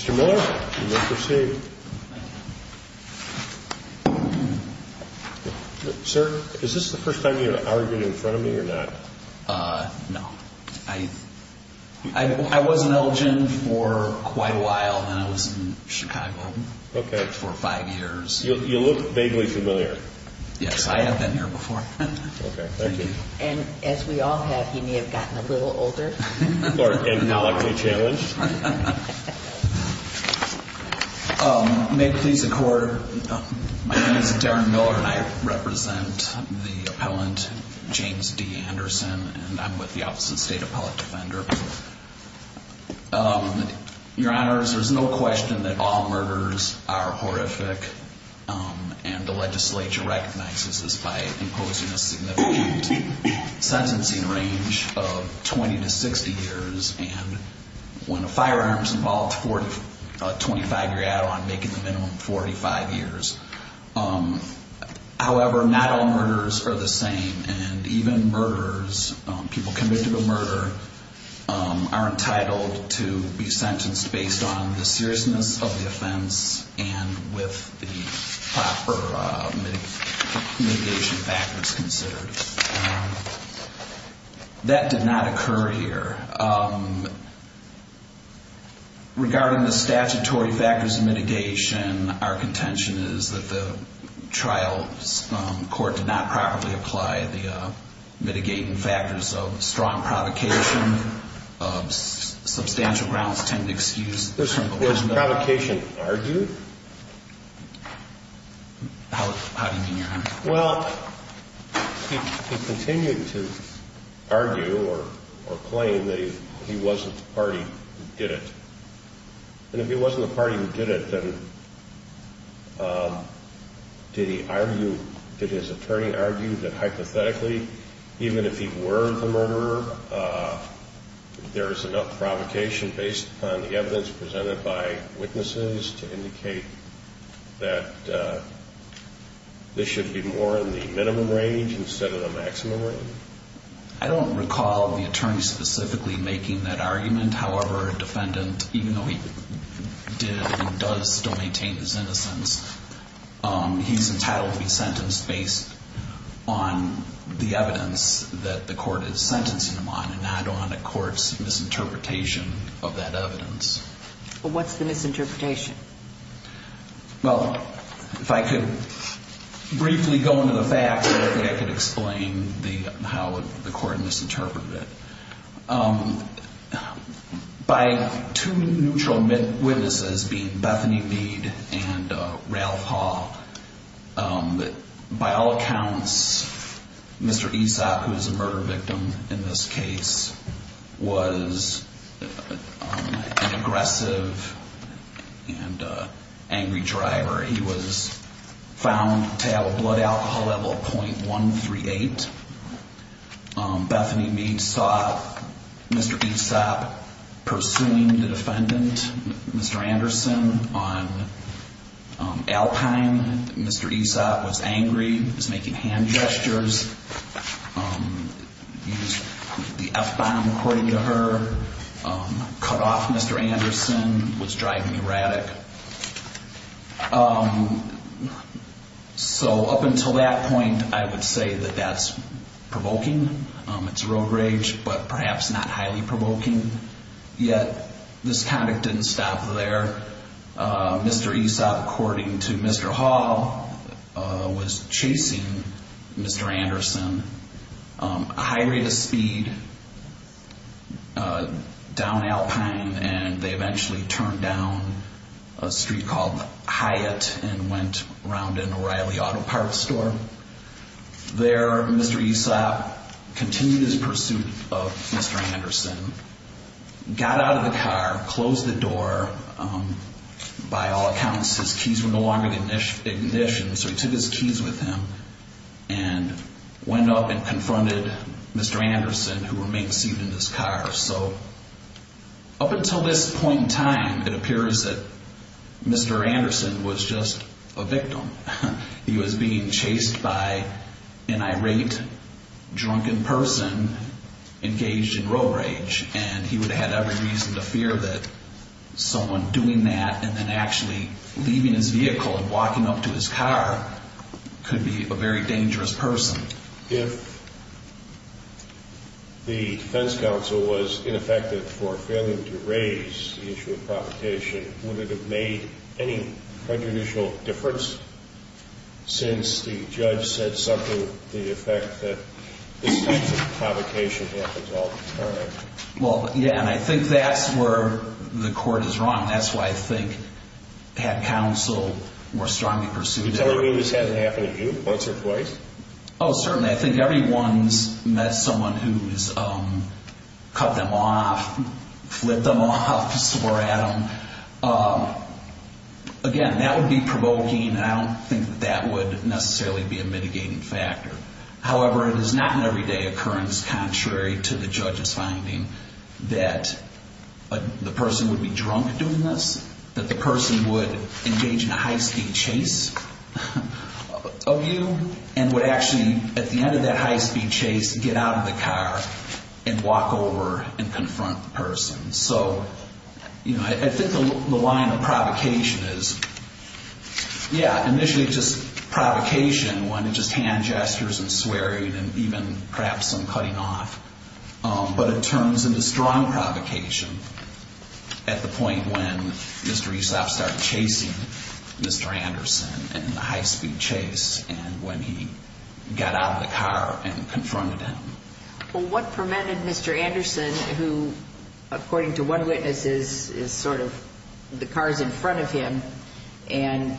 Mr. Miller, you may proceed Sir, is this the first time you have argued in front of me or not? No, I was in Elgin for quite a while, then I was in Chicago for five years. You look vaguely familiar. Yes, I have been here before. Okay, thank you. And as we all have, you may have gotten a little older. Or agnolically challenged. May it please the court, my name is Darren Miller and I represent the appellant James D. Anderson and I'm with the Office of the State Appellate Defender. Your honors, there's no question that all murders are horrific and the legislature recognizes this by imposing a significant sentencing range of 20 to 60 years. However, not all murders are the same and even murderers, people convicted of murder, are entitled to be sentenced based on the seriousness of the offense and with the proper mitigation factors considered. That did not occur here. Regarding the statutory factors of mitigation, our contention is that the trial court did not properly apply the mitigating factors of strong provocation. Substantial grounds tend to excuse. Was provocation argued? How do you mean, your honor? Well, he continued to argue or claim that he wasn't the party who did it. And if he wasn't the party who did it, then did he argue, did his attorney argue that hypothetically, even if he were the murderer, there is enough provocation based upon the evidence presented by witnesses to indicate that this should be more in the minimum range instead of the maximum range? I don't recall the attorney specifically making that argument. However, a defendant, even though he did and does still maintain his innocence, he's entitled to be sentenced based on the evidence that the court is sentencing him on and not on a court's misinterpretation of that evidence. Well, what's the misinterpretation? Well, if I could briefly go into the facts, I think I could explain how the court misinterpreted it. By two neutral witnesses being Bethany Mead and Ralph Hall, by all accounts, Mr. Esop, who is a murder victim in this case, was an aggressive and angry driver. He was found to have a blood alcohol level of .138. Bethany Mead saw Mr. Esop pursuing the defendant, Mr. Anderson, on Alpine. Mr. Esop was angry, was making hand gestures, used the F-bomb according to her, cut off Mr. Anderson, was driving erratic. So up until that point, I would say that that's provoking. It's rogue rage, but perhaps not highly provoking yet. This conduct didn't stop there. Mr. Esop, according to Mr. Hall, was chasing Mr. Anderson. A high rate of speed down Alpine, and they eventually turned down a street called Hyatt and went around an O'Reilly Auto Parts store. There, Mr. Esop continued his pursuit of Mr. Anderson, got out of the car, closed the door. By all accounts, his keys were no longer in ignition, so he took his keys with him and went up and confronted Mr. Anderson, who remained seated in his car. So up until this point in time, it appears that Mr. Anderson was just a victim. He was being chased by an irate, drunken person engaged in rogue rage. And he would have had every reason to fear that someone doing that and then actually leaving his vehicle and walking up to his car could be a very dangerous person. If the defense counsel was ineffective for failing to raise the issue of provocation, would it have made any prejudicial difference since the judge said something to the effect that this type of provocation happens all the time? Well, yeah, and I think that's where the court is wrong. That's why I think had counsel more strongly pursued it. You mean this hasn't happened to you once or twice? Oh, certainly. I think everyone's met someone who's cut them off, flipped them off, swore at them. Again, that would be provoking, and I don't think that that would necessarily be a mitigating factor. However, it is not an everyday occurrence, contrary to the judge's finding, that the person would be drunk doing this, that the person would engage in a high-speed chase of you and would actually, at the end of that high-speed chase, get out of the car and walk over and confront the person. So, you know, I think the line of provocation is, yeah, initially just provocation when it's just hand gestures and swearing and even perhaps some cutting off, but it turns into strong provocation at the point when Mr. Esop started chasing Mr. Anderson in the high-speed chase and when he got out of the car and confronted him. Well, what prevented Mr. Anderson, who, according to one witness, is sort of the car's in front of him and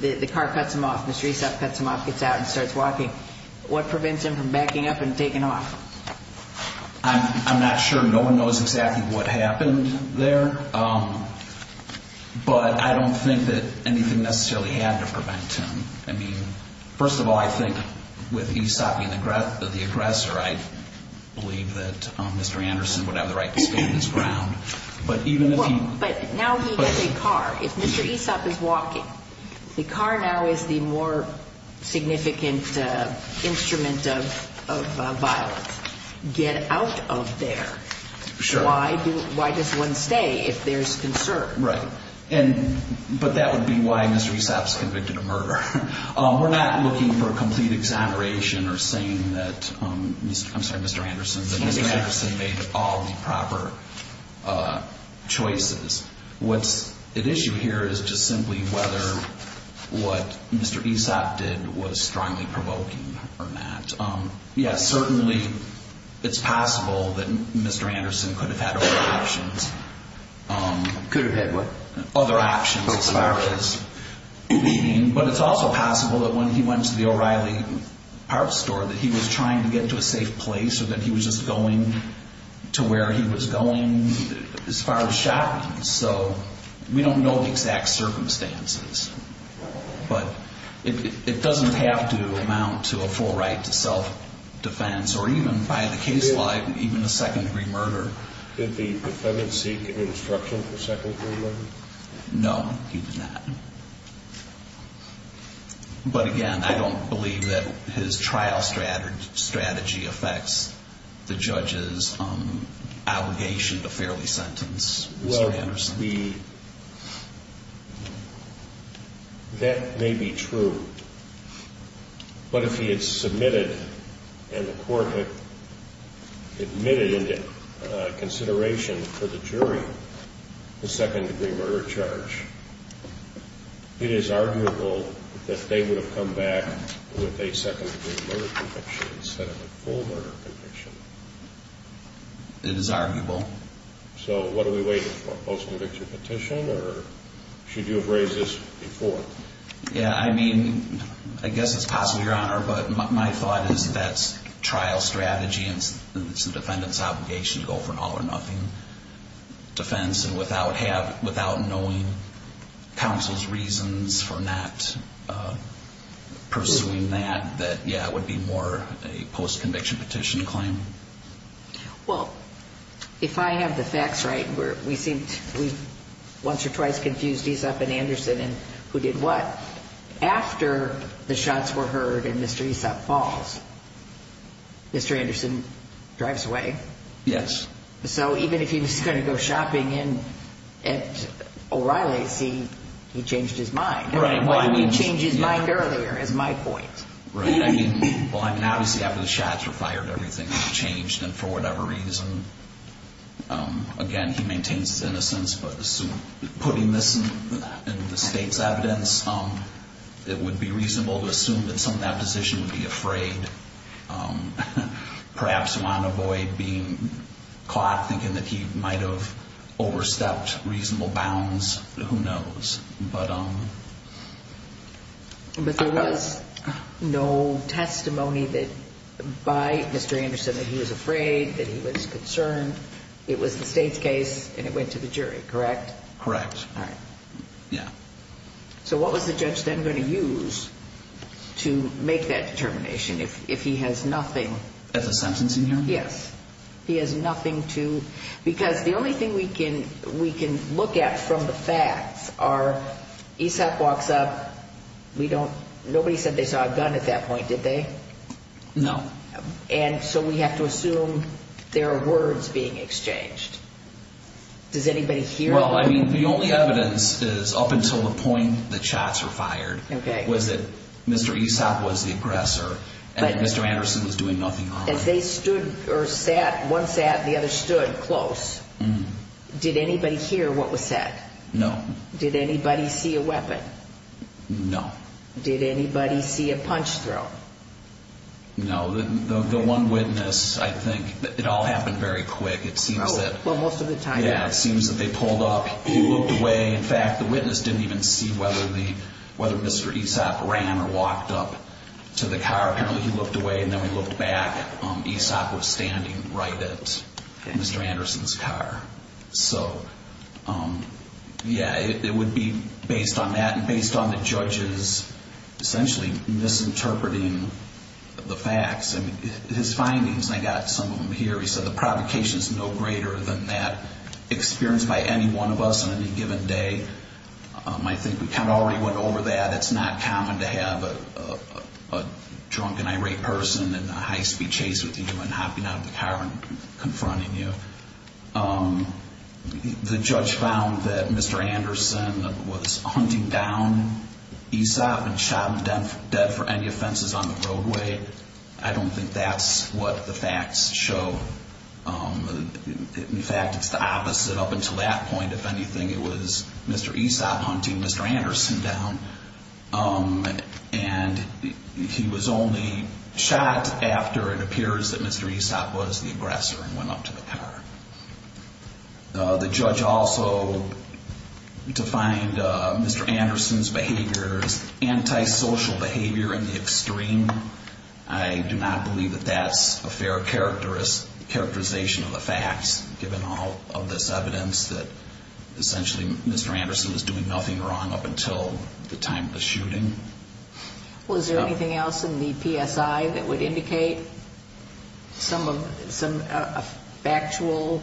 the car cuts him off, Mr. Esop cuts him off, gets out and starts walking. What prevents him from backing up and taking off? I'm not sure. No one knows exactly what happened there, but I don't think that anything necessarily had to prevent him. I mean, first of all, I think with Esop being the aggressor, I believe that Mr. Anderson would have the right to stand his ground. But now he has a car. If Mr. Esop is walking, the car now is the more significant instrument of violence. Get out of there. Sure. Why does one stay if there's concern? But that would be why Mr. Esop is convicted of murder. We're not looking for a complete exoneration or saying that Mr. Anderson made all the proper choices. What's at issue here is just simply whether what Mr. Esop did was strongly provoking or not. Yes, certainly it's possible that Mr. Anderson could have had other options. Could have had what? Other options as far as being. But it's also possible that when he went to the O'Reilly Park store that he was trying to get to a safe place or that he was just going to where he was going as far as shopping. So we don't know the exact circumstances. But it doesn't have to amount to a full right to self-defense or even, by the case law, even a second-degree murder. Did the defendant seek an instruction for second-degree murder? No, he did not. But again, I don't believe that his trial strategy affects the judge's allegation to fairly sentence Mr. Anderson. That may be true. But if he had submitted and the court had admitted into consideration for the jury the second-degree murder charge, it is arguable that they would have come back with a second-degree murder conviction instead of a full murder conviction. It is arguable. So what are we waiting for, a post-conviction petition, or should you have raised this before? Yeah, I mean, I guess it's possible, Your Honor, but my thought is that trial strategy and the defendant's obligation to go for an all-or-nothing defense and without knowing counsel's reasons for not pursuing that, that, yeah, it would be more a post-conviction petition claim. Well, if I have the facts right, we once or twice confused Aesop and Anderson and who did what. After the shots were heard and Mr. Aesop falls, Mr. Anderson drives away. Yes. So even if he was going to go shopping at O'Reilly's, he changed his mind. Right. He changed his mind earlier, is my point. Right. I mean, well, obviously after the shots were fired, everything changed, and for whatever reason, again, he maintains his innocence, but putting this in the state's evidence, it would be reasonable to assume that some of that position would be afraid, perhaps want to avoid being caught thinking that he might have overstepped reasonable bounds. Who knows? But there was no testimony by Mr. Anderson that he was afraid, that he was concerned. It was the state's case, and it went to the jury, correct? Correct. All right. Yeah. So what was the judge then going to use to make that determination if he has nothing? As a sentencing hearing? Yes. He has nothing to, because the only thing we can look at from the facts are ASAP walks up, we don't, nobody said they saw a gun at that point, did they? No. And so we have to assume there are words being exchanged. Does anybody here know? Well, I mean, the only evidence is up until the point the shots were fired was that Mr. ASAP was the aggressor and Mr. Anderson was doing nothing wrong. As they stood or sat, one sat and the other stood close, did anybody hear what was said? No. Did anybody see a weapon? No. Did anybody see a punch throw? No. The one witness, I think, it all happened very quick. It seems that. Well, most of the time. Yeah, it seems that they pulled up, he looked away. In fact, the witness didn't even see whether Mr. ASAP ran or walked up to the car. Apparently he looked away and then we looked back. ASAP was standing right at Mr. Anderson's car. So, yeah, it would be based on that and based on the judges essentially misinterpreting the facts. I mean, his findings, and I got some of them here, he said the provocation is no greater than that experienced by any one of us on any given day. I think we kind of already went over that. It's not common to have a drunk and irate person in a high-speed chase with you and hopping out of the car and confronting you. The judge found that Mr. Anderson was hunting down ASAP and shot him dead for any offenses on the roadway. I don't think that's what the facts show. In fact, it's the opposite. Up until that point, if anything, it was Mr. ASAP hunting Mr. Anderson down. And he was only shot after it appears that Mr. ASAP was the aggressor and went up to the car. The judge also defined Mr. Anderson's behavior as antisocial behavior in the extreme. I do not believe that that's a fair characterization of the facts, given all of this evidence that essentially Mr. Anderson was doing nothing wrong up until the time of the shooting. Well, is there anything else in the PSI that would indicate some factual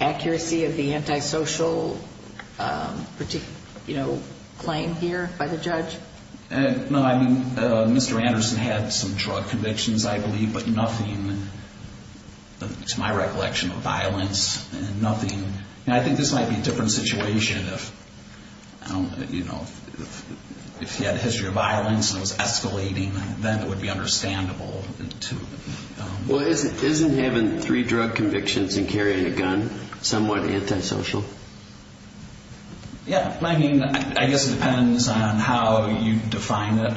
accuracy of the antisocial claim here by the judge? No, I mean, Mr. Anderson had some drug convictions, I believe, but nothing, to my recollection, of violence. Nothing. I think this might be a different situation if he had a history of violence and it was escalating. Then it would be understandable. Well, isn't having three drug convictions and carrying a gun somewhat antisocial? Yeah. I mean, I guess it depends on how you define it.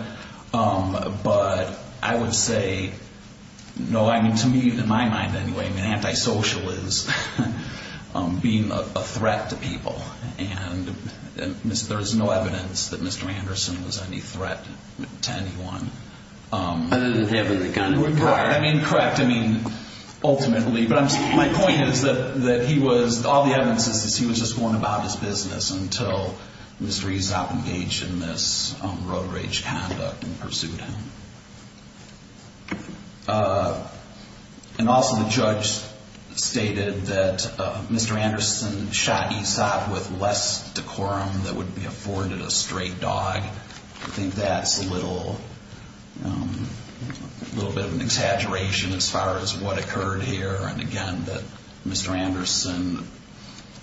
But I would say, no, I mean, to me, in my mind anyway, antisocial is being a threat to people. And there is no evidence that Mr. Anderson was any threat to anyone. Other than having the gun required. Right. I mean, correct. I mean, ultimately. But my point is that he was, all the evidence is that he was just going about his business until Mr. Esopp engaged in this road rage conduct and pursued him. And also the judge stated that Mr. Anderson shot Esopp with less decorum than would be afforded a straight dog. I think that's a little bit of an exaggeration as far as what occurred here. And, again, that Mr. Anderson,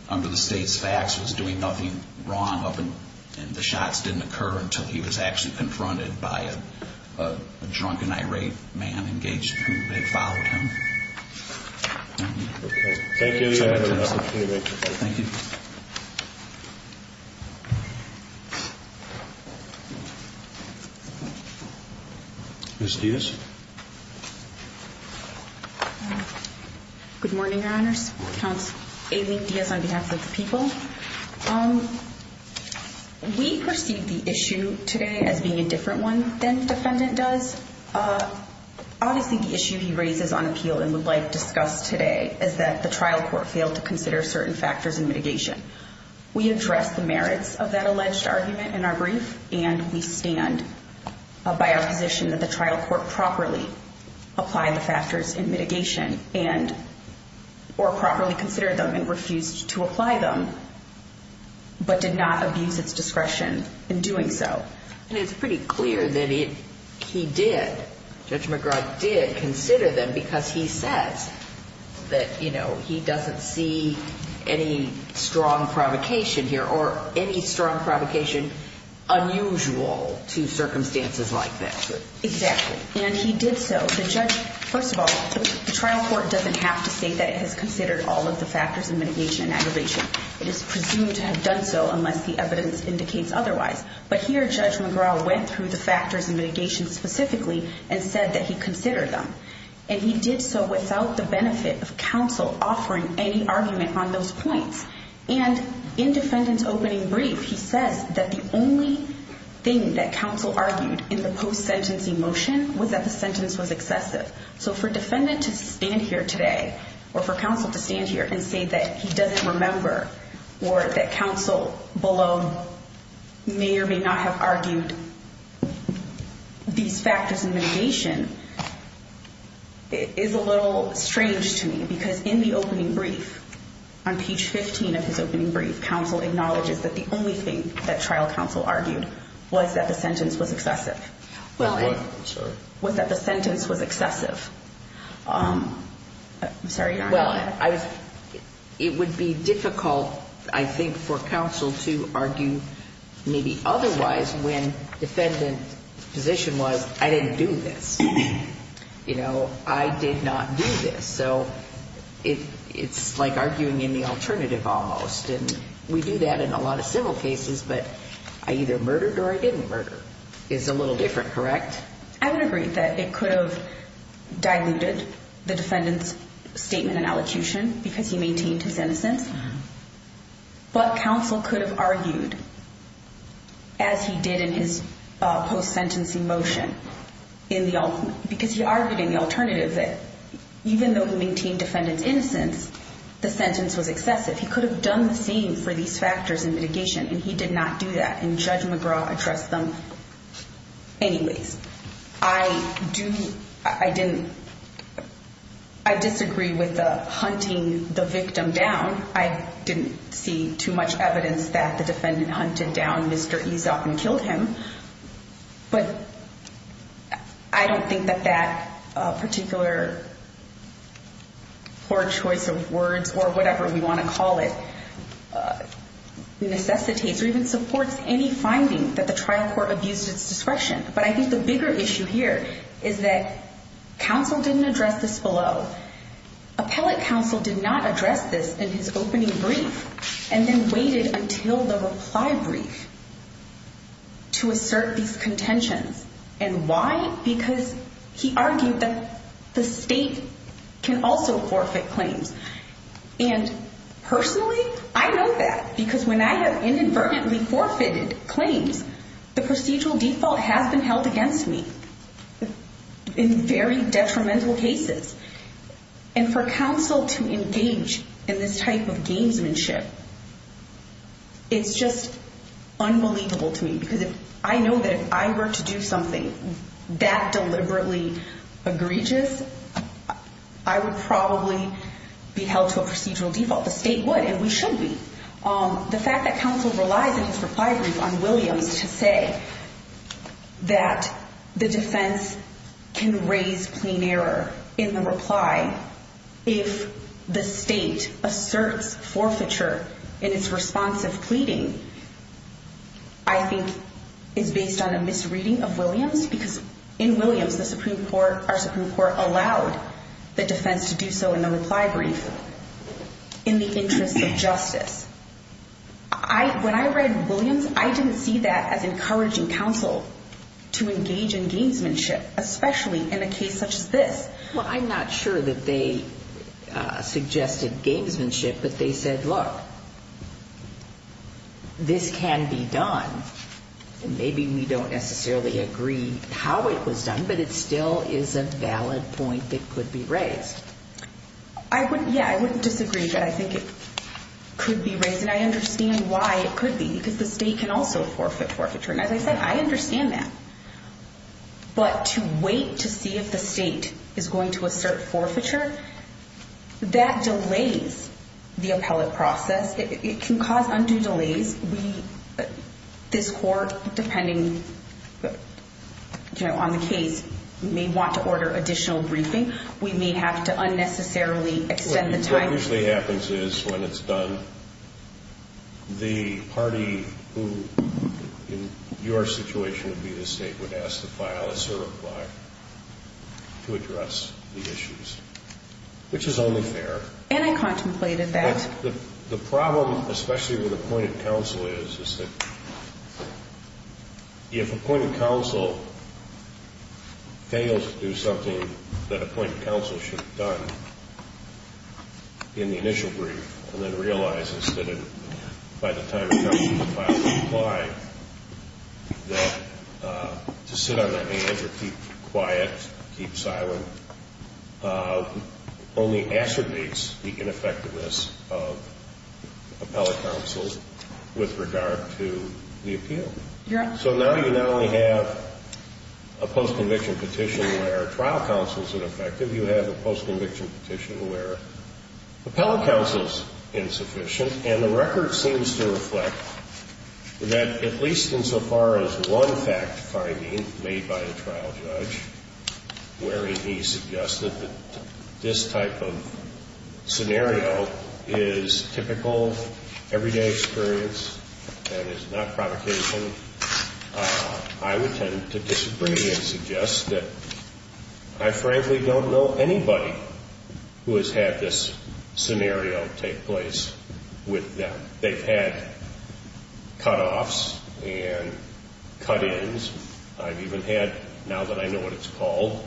under the state's facts, was doing nothing wrong. And the shots didn't occur until he was actually confronted by a drunk and irate man engaged who had followed him. Thank you. Thank you. Thank you. Ms. Diaz. Good morning, Your Honors. Counsel Amy Diaz on behalf of the people. We perceive the issue today as being a different one than the defendant does. Obviously the issue he raises on appeal and would like discussed today is that the trial court failed to consider certain factors in mitigation. We address the merits of that alleged argument in our brief, and we stand by our position that the trial court properly applied the factors in mitigation and or properly considered them and refused to apply them, but did not abuse its discretion in doing so. And it's pretty clear that he did. Judge McGrath did consider them because he says that he doesn't see any strong provocation here or any strong provocation unusual to circumstances like this. Exactly. And he did so. First of all, the trial court doesn't have to say that it has considered all of the factors in mitigation and aggravation. It is presumed to have done so unless the evidence indicates otherwise. But here, Judge McGrath went through the factors in mitigation specifically and said that he considered them. And he did so without the benefit of counsel offering any argument on those points. And in defendant's opening brief, he says that the only thing that counsel argued in the post-sentencing motion was that the sentence was excessive. So for defendant to stand here today or for counsel to stand here and say that he doesn't remember or that counsel below may or may not have argued these factors in mitigation is a little strange to me. Because in the opening brief, on page 15 of his opening brief, counsel acknowledges that the only thing that trial counsel argued was that the sentence was excessive. Was that the sentence was excessive? I'm sorry. Well, it would be difficult, I think, for counsel to argue maybe otherwise when defendant's position was I didn't do this. You know, I did not do this. So it's like arguing in the alternative almost. And we do that in a lot of civil cases. But I either murdered or I didn't murder. Is a little different, correct? I would agree that it could have diluted the defendant's statement and allocution because he maintained his innocence. But counsel could have argued, as he did in his post-sentencing motion, because he argued in the alternative that even though he maintained defendant's innocence, the sentence was excessive. He could have done the same for these factors in mitigation, and he did not do that. And Judge McGraw addressed them. Anyways, I disagree with hunting the victim down. I didn't see too much evidence that the defendant hunted down Mr. Ezoff and killed him. But I don't think that that particular poor choice of words or whatever we want to call it necessitates or even supports any finding that the trial court abused its discretion. But I think the bigger issue here is that counsel didn't address this below. Appellate counsel did not address this in his opening brief and then waited until the reply brief to assert these contentions. And why? Because he argued that the state can also forfeit claims. And personally, I know that because when I have inadvertently forfeited claims, the procedural default has been held against me in very detrimental cases. And for counsel to engage in this type of gamesmanship, it's just unbelievable to me. Because I know that if I were to do something that deliberately egregious, I would probably be held to a procedural default. The state would, and we should be. The fact that counsel relies in his reply brief on Williams to say that the defense can raise clean error in the reply if the state asserts forfeiture in its response of pleading, I think is based on a misreading of Williams. Because in Williams, our Supreme Court allowed the defense to do so in the reply brief in the interest of justice. When I read Williams, I didn't see that as encouraging counsel to engage in gamesmanship, especially in a case such as this. Well, I'm not sure that they suggested gamesmanship, but they said, look, this can be done. Maybe we don't necessarily agree how it was done, but it still is a valid point that could be raised. I wouldn't, yeah, I wouldn't disagree, but I think it could be raised. And I understand why it could be, because the state can also forfeit forfeiture. And as I said, I understand that. But to wait to see if the state is going to assert forfeiture, that delays the appellate process. It can cause undue delays. This court, depending on the case, may want to order additional briefing. We may have to unnecessarily extend the time. What usually happens is when it's done, the party who in your situation would be the state would ask to file a certify to address the issues, which is only fair. And I contemplated that. The problem, especially with appointed counsel, is that if appointed counsel fails to do something that appointed counsel should have done in the initial brief and then realizes that it, by the time it comes to the final reply, that to sit on that manager, keep quiet, keep silent, only acerbates the ineffectiveness of appellate counsel with regard to the appeal. So now you not only have a postconviction petition where trial counsel is ineffective, you have a postconviction petition where appellate counsel is insufficient. And the record seems to reflect that at least insofar as one fact-finding made by a trial judge where he suggested that this type of scenario is typical everyday experience and is not provocation, I would tend to disagree and suggest that I frankly don't know anybody who has had this scenario take place. They've had cutoffs and cut-ins. I've even had, now that I know what it's called,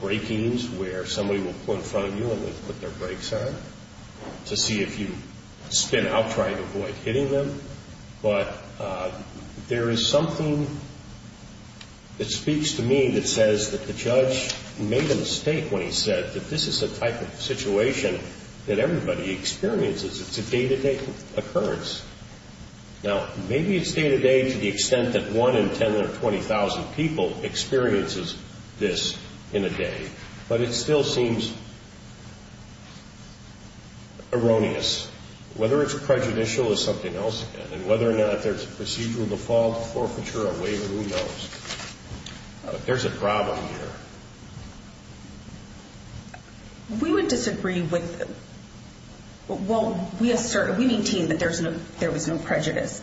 break-ins where somebody will pull in front of you and they'll put their brakes on to see if you spin out trying to avoid hitting them. But there is something that speaks to me that says that the judge made a mistake when he said that this is a type of situation that everybody experiences. It's a day-to-day occurrence. Now, maybe it's day-to-day to the extent that 1 in 10,000 or 20,000 people experiences this in a day, but it still seems erroneous. Whether it's prejudicial is something else. And whether or not there's a procedural default forfeiture or waiver, who knows? There's a problem here. We would disagree with... Well, we maintain that there was no prejudice,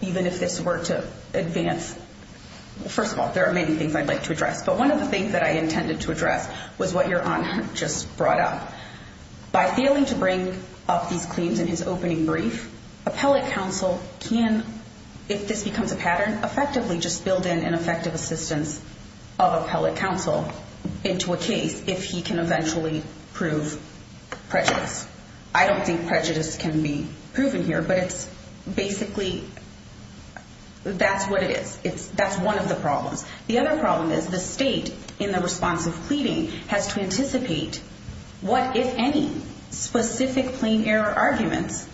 even if this were to advance... First of all, there are many things I'd like to address. But one of the things that I intended to address was what Your Honor just brought up. By failing to bring up these claims in his opening brief, appellate counsel can, if this becomes a pattern, effectively just build in an effective assistance of appellate counsel into a case if he can eventually prove prejudice. I don't think prejudice can be proven here, but it's basically... That's what it is. That's one of the problems. The other problem is the state, in the response of pleading, has to anticipate what, if any, specific plain error arguments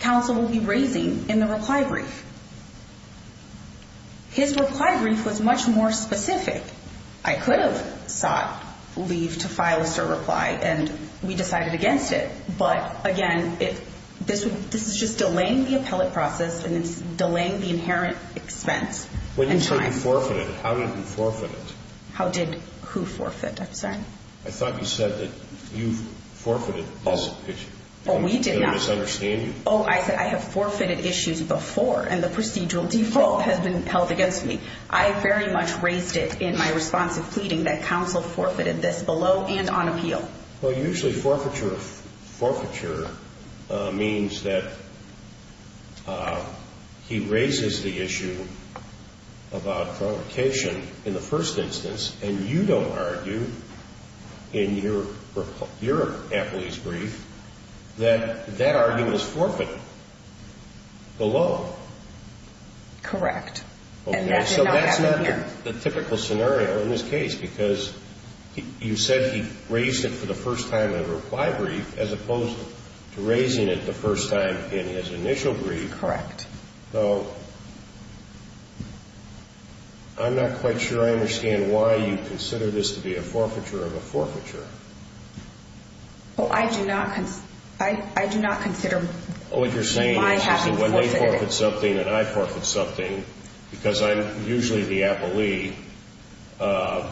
counsel will be raising in the reply brief. His reply brief was much more specific. I could have sought leave to file a cert reply, and we decided against it. But, again, this is just delaying the appellate process, and it's delaying the inherent expense. When you say you forfeited, how did you forfeit it? How did who forfeit? I'm sorry. I thought you said that you forfeited this issue. Oh, we did not. I'm going to misunderstand you. Oh, I said I have forfeited issues before, and the procedural default has been held against me. I very much raised it in my response of pleading that counsel forfeited this below and on appeal. Well, usually forfeiture means that he raises the issue about provocation in the first instance, and you don't argue in your appellee's brief that that argument is forfeited below. Correct. Okay, so that's not the typical scenario in this case because you said he raised it for the first time in a reply brief as opposed to raising it the first time in his initial brief. Correct. So, I'm not quite sure I understand why you consider this to be a forfeiture of a forfeiture. Well, I do not consider my having forfeited it. Because I'm usually the appellee, I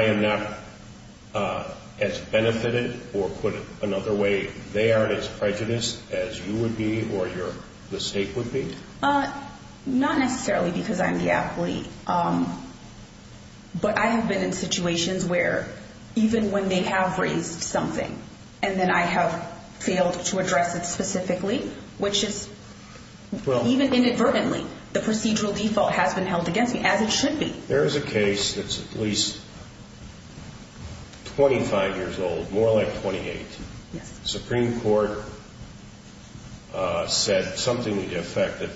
am not as benefited or put another way, they aren't as prejudiced as you would be or the state would be? Not necessarily because I'm the appellee, but I have been in situations where even when they have raised something and then I have failed to address it specifically, which is even inadvertently, the procedural default has been held against me, as it should be. There is a case that's at least 25 years old, more like 28. Yes. Supreme Court said something to the effect that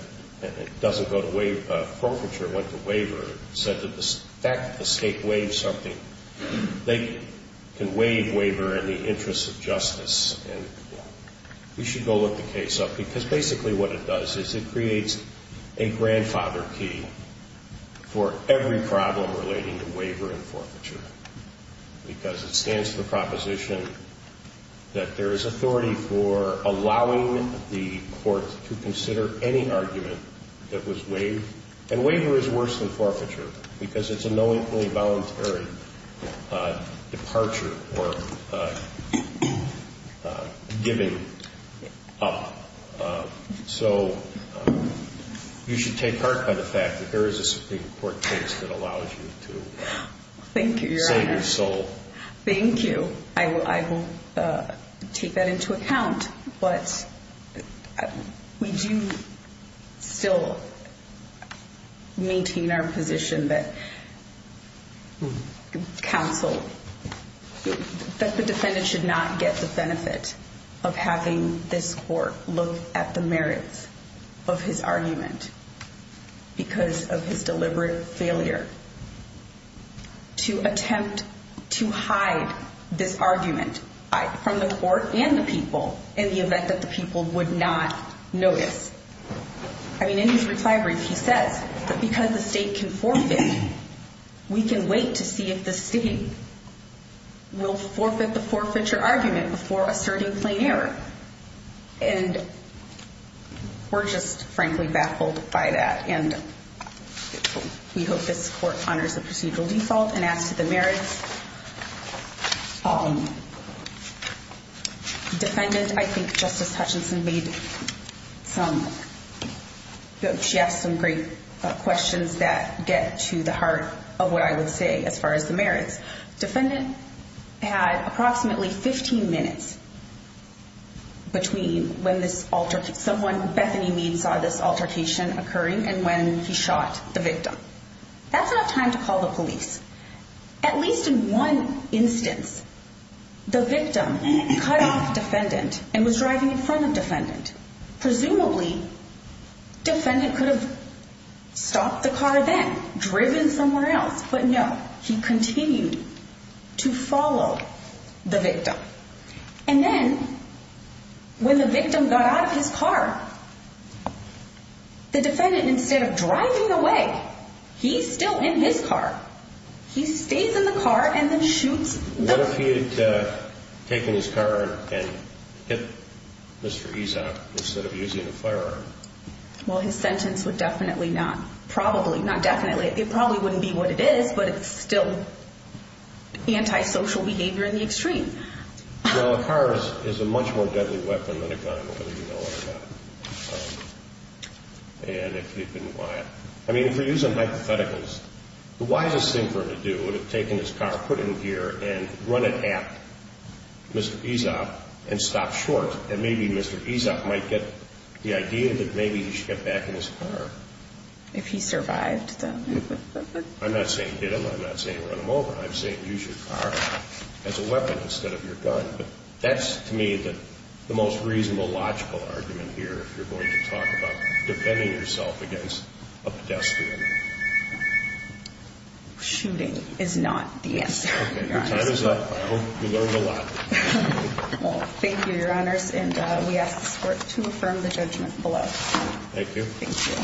it doesn't go to waive, forfeiture went to waiver, said that the fact that the state waived something, they can waive waiver in the interest of justice. We should go look the case up because basically what it does is it creates a grandfather key for every problem relating to waiver and forfeiture. Because it stands to the proposition that there is authority for allowing the court to consider any argument that was waived. And waiver is worse than forfeiture because it's a knowingly voluntary departure or giving up. So you should take heart by the fact that there is a Supreme Court case that allows you to send your soul. Thank you, Your Honor. Thank you. I will take that into account, but we do still maintain our position that counsel, that the defendant should not get the benefit of having this court look at the merits of his argument because of his deliberate failure. To attempt to hide this argument from the court and the people in the event that the people would not notice. I mean, in his retirement, he says that because the state can forfeit, we can wait to see if the state will forfeit the forfeiture argument before asserting plain error. And we're just frankly baffled by that. And we hope this court honors the procedural default. And as to the merits, defendant, I think Justice Hutchinson made some, she asked some great questions that get to the heart of what I would say as far as the merits. Defendant had approximately 15 minutes between when this altercation, someone, Bethany Mead saw this altercation occurring and when he shot the victim. That's enough time to call the police. At least in one instance, the victim cut off defendant and was driving in front of defendant. Presumably defendant could have stopped the car then driven somewhere else. But no, he continued to follow the victim. And then when the victim got out of his car, the defendant, instead of driving away, he's still in his car. He stays in the car and then shoots. What if he had taken his car and hit Mr. Ezek instead of using a firearm? Well, his sentence would definitely not, probably, not definitely, it probably wouldn't be what it is, but it's still anti-social behavior in the extreme. Well, a car is a much more deadly weapon than a gun, whether you know it or not. And if he didn't buy it. I mean, if we're using hypotheticals, the wisest thing for him to do would have taken his car, put it in gear and run it at Mr. Ezek and stop short. And maybe Mr. Ezek might get the idea that maybe he should get back in his car. If he survived, then. I'm not saying hit him, I'm not saying run him over, I'm saying use your car as a weapon instead of your gun. But that's, to me, the most reasonable, logical argument here if you're going to talk about defending yourself against a pedestrian. Shooting is not the answer. Okay, your time is up. I hope you learned a lot. Well, thank you, Your Honors, and we ask the Court to affirm the judgment below. Thank you. Thank you.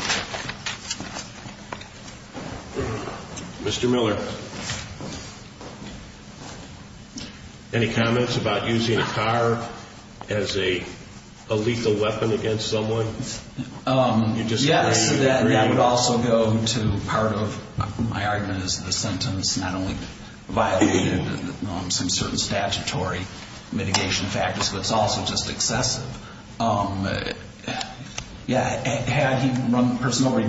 Mr. Miller. Any comments about using a car as a lethal weapon against someone? Yes, that would also go to part of my argument is the sentence not only violated some certain statutory mitigation factors, but it's also just excessive. Yeah, personally,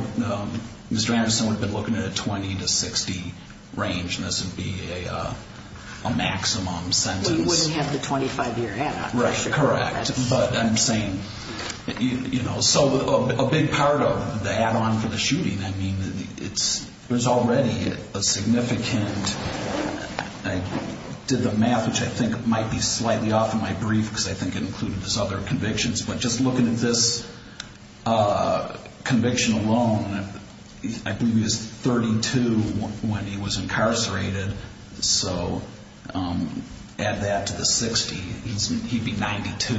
Mr. Anderson would have been looking at a 20 to 60 range, and this would be a maximum sentence. He wouldn't have the 25-year add-on. Correct. But I'm saying, you know, so a big part of the add-on for the shooting, I mean, there's already a significant, I did the math, which I think might be slightly off in my brief, because I think it included his other convictions, but just looking at this conviction alone, I believe he was 32 when he was incarcerated, so add that to the 60, he'd be 92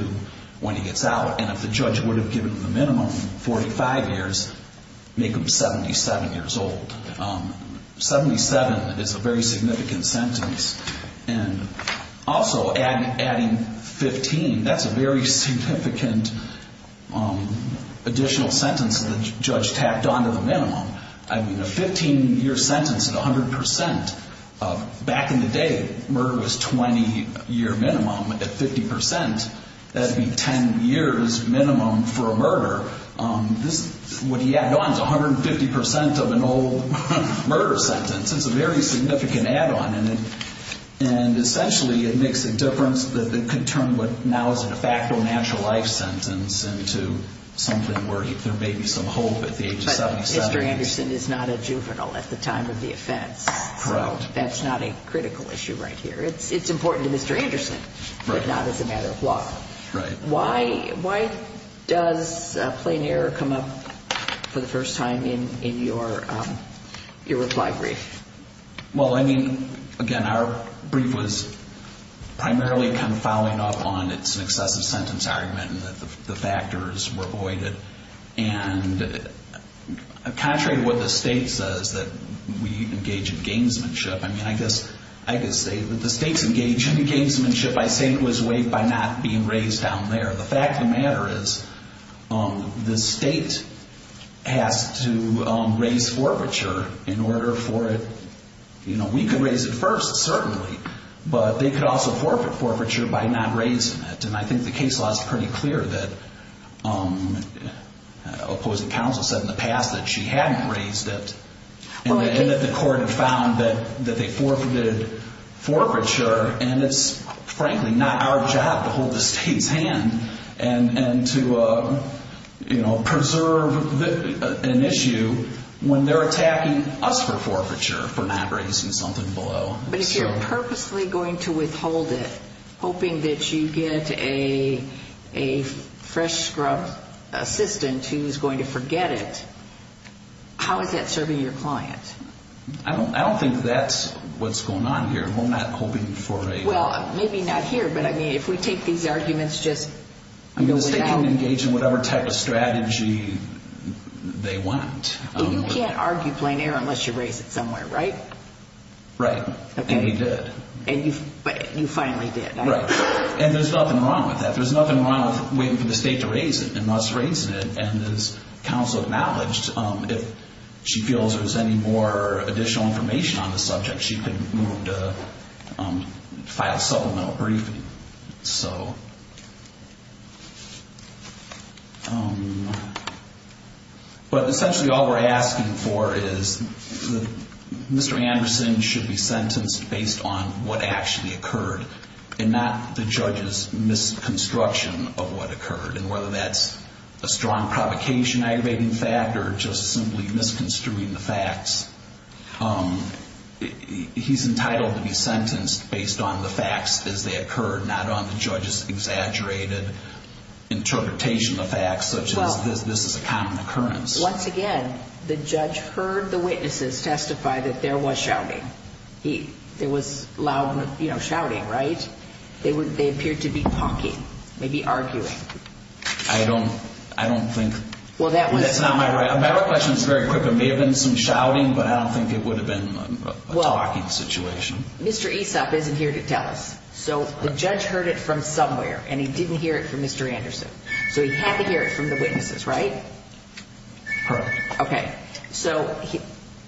when he gets out. And if the judge would have given him the minimum, 45 years, make him 77 years old. 77 is a very significant sentence, and also adding 15, that's a very significant additional sentence the judge tacked on to the minimum. I mean, a 15-year sentence at 100%, back in the day, murder was 20-year minimum at 50%. That would be 10 years minimum for a murder. What he added on is 150% of an old murder sentence. It's a very significant add-on, and essentially it makes a difference that could turn what now is a de facto natural life sentence into something where there may be some hope at the age of 77. But Mr. Anderson is not a juvenile at the time of the offense. Correct. So that's not a critical issue right here. It's important to Mr. Anderson, but not as a matter of law. Right. Why does plain error come up for the first time in your reply brief? Well, I mean, again, our brief was primarily kind of following up on its excessive sentence argument and that the factors were voided. And contrary to what the state says, that we engage in gamesmanship. I mean, I guess I could say that the state's engaged in gamesmanship. I say it was weighed by not being raised down there. The fact of the matter is the state has to raise forfeiture in order for it. You know, we could raise it first, certainly, but they could also forfeit forfeiture by not raising it. And I think the case law is pretty clear that opposing counsel said in the past that she hadn't raised it. And that the court had found that they forfeited forfeiture. And it's, frankly, not our job to hold the state's hand and to, you know, preserve an issue when they're attacking us for forfeiture for not raising something below. But if you're purposely going to withhold it, hoping that you get a fresh scrub assistant who's going to forget it, how is that serving your client? I don't think that's what's going on here. We're not hoping for a... Well, maybe not here, but, I mean, if we take these arguments just... I mean, the state can engage in whatever type of strategy they want. You can't argue plain error unless you raise it somewhere, right? Right. And he did. And you finally did. Right. And there's nothing wrong with that. There's nothing wrong with waiting for the state to raise it and not raising it. And as counsel acknowledged, if she feels there's any more additional information on the subject, she can move to file supplemental briefing. So... But essentially all we're asking for is Mr. Anderson should be sentenced based on what actually occurred and not the judge's misconstruction of what occurred. And whether that's a strong provocation, aggravating fact, or just simply misconstruing the facts, he's entitled to be sentenced based on the facts as they occurred, not on the judge's exaggerated interpretation of facts such as this is a common occurrence. Once again, the judge heard the witnesses testify that there was shouting. There was loud shouting, right? They appeared to be talking, maybe arguing. I don't think... Well, that was... That's not my... My recollection is very quick. There may have been some shouting, but I don't think it would have been a talking situation. Mr. Aesop isn't here to tell us. So the judge heard it from somewhere, and he didn't hear it from Mr. Anderson. So he had to hear it from the witnesses, right? Correct. Okay. So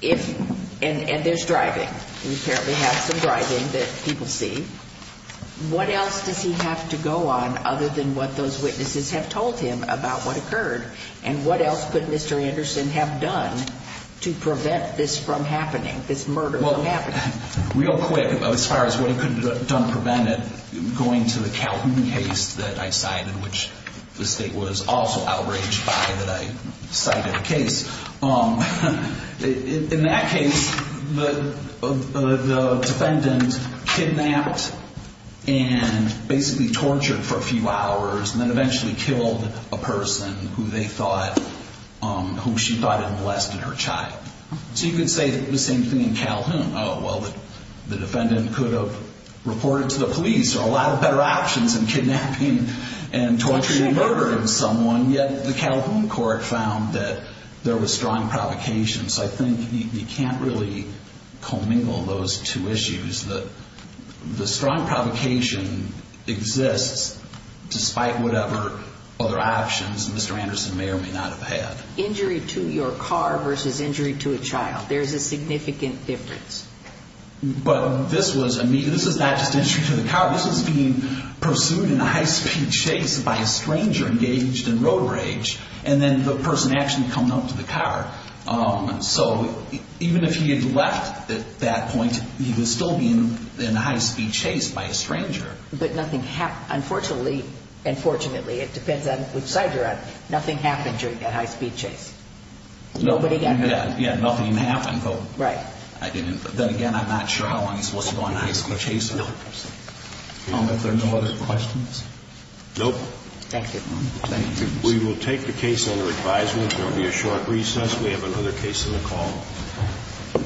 if... And there's driving. We apparently have some driving that people see. What else does he have to go on other than what those witnesses have told him about what occurred? And what else could Mr. Anderson have done to prevent this from happening, this murder from happening? Well, real quick, as far as what he could have done to prevent it, going to the Calhoun case that I cited, which the state was also outraged by that I cited the case. In that case, the defendant kidnapped and basically tortured for a few hours and then eventually killed a person who they thought... whom she thought had molested her child. So you could say the same thing in Calhoun. Oh, well, the defendant could have reported to the police. There are a lot of better options than kidnapping and torturing and murdering someone. And yet the Calhoun court found that there was strong provocation. So I think you can't really commingle those two issues. The strong provocation exists despite whatever other options Mr. Anderson may or may not have had. Injury to your car versus injury to a child. There's a significant difference. But this was immediate. This was not just injury to the car. This was being pursued in a high-speed chase by a stranger engaged in road rage. And then the person actually coming out to the car. So even if he had left at that point, he was still being in a high-speed chase by a stranger. But nothing happened. Unfortunately and fortunately, it depends on which side you're on, nothing happened during that high-speed chase. Nobody got hurt. Yeah, nothing happened. Right. Then again, I'm not sure how long he's supposed to go on a high-speed chase. No. If there are no other questions? Nope. Thank you. We will take the case under advisement. There will be a short recess. We have another case on the call.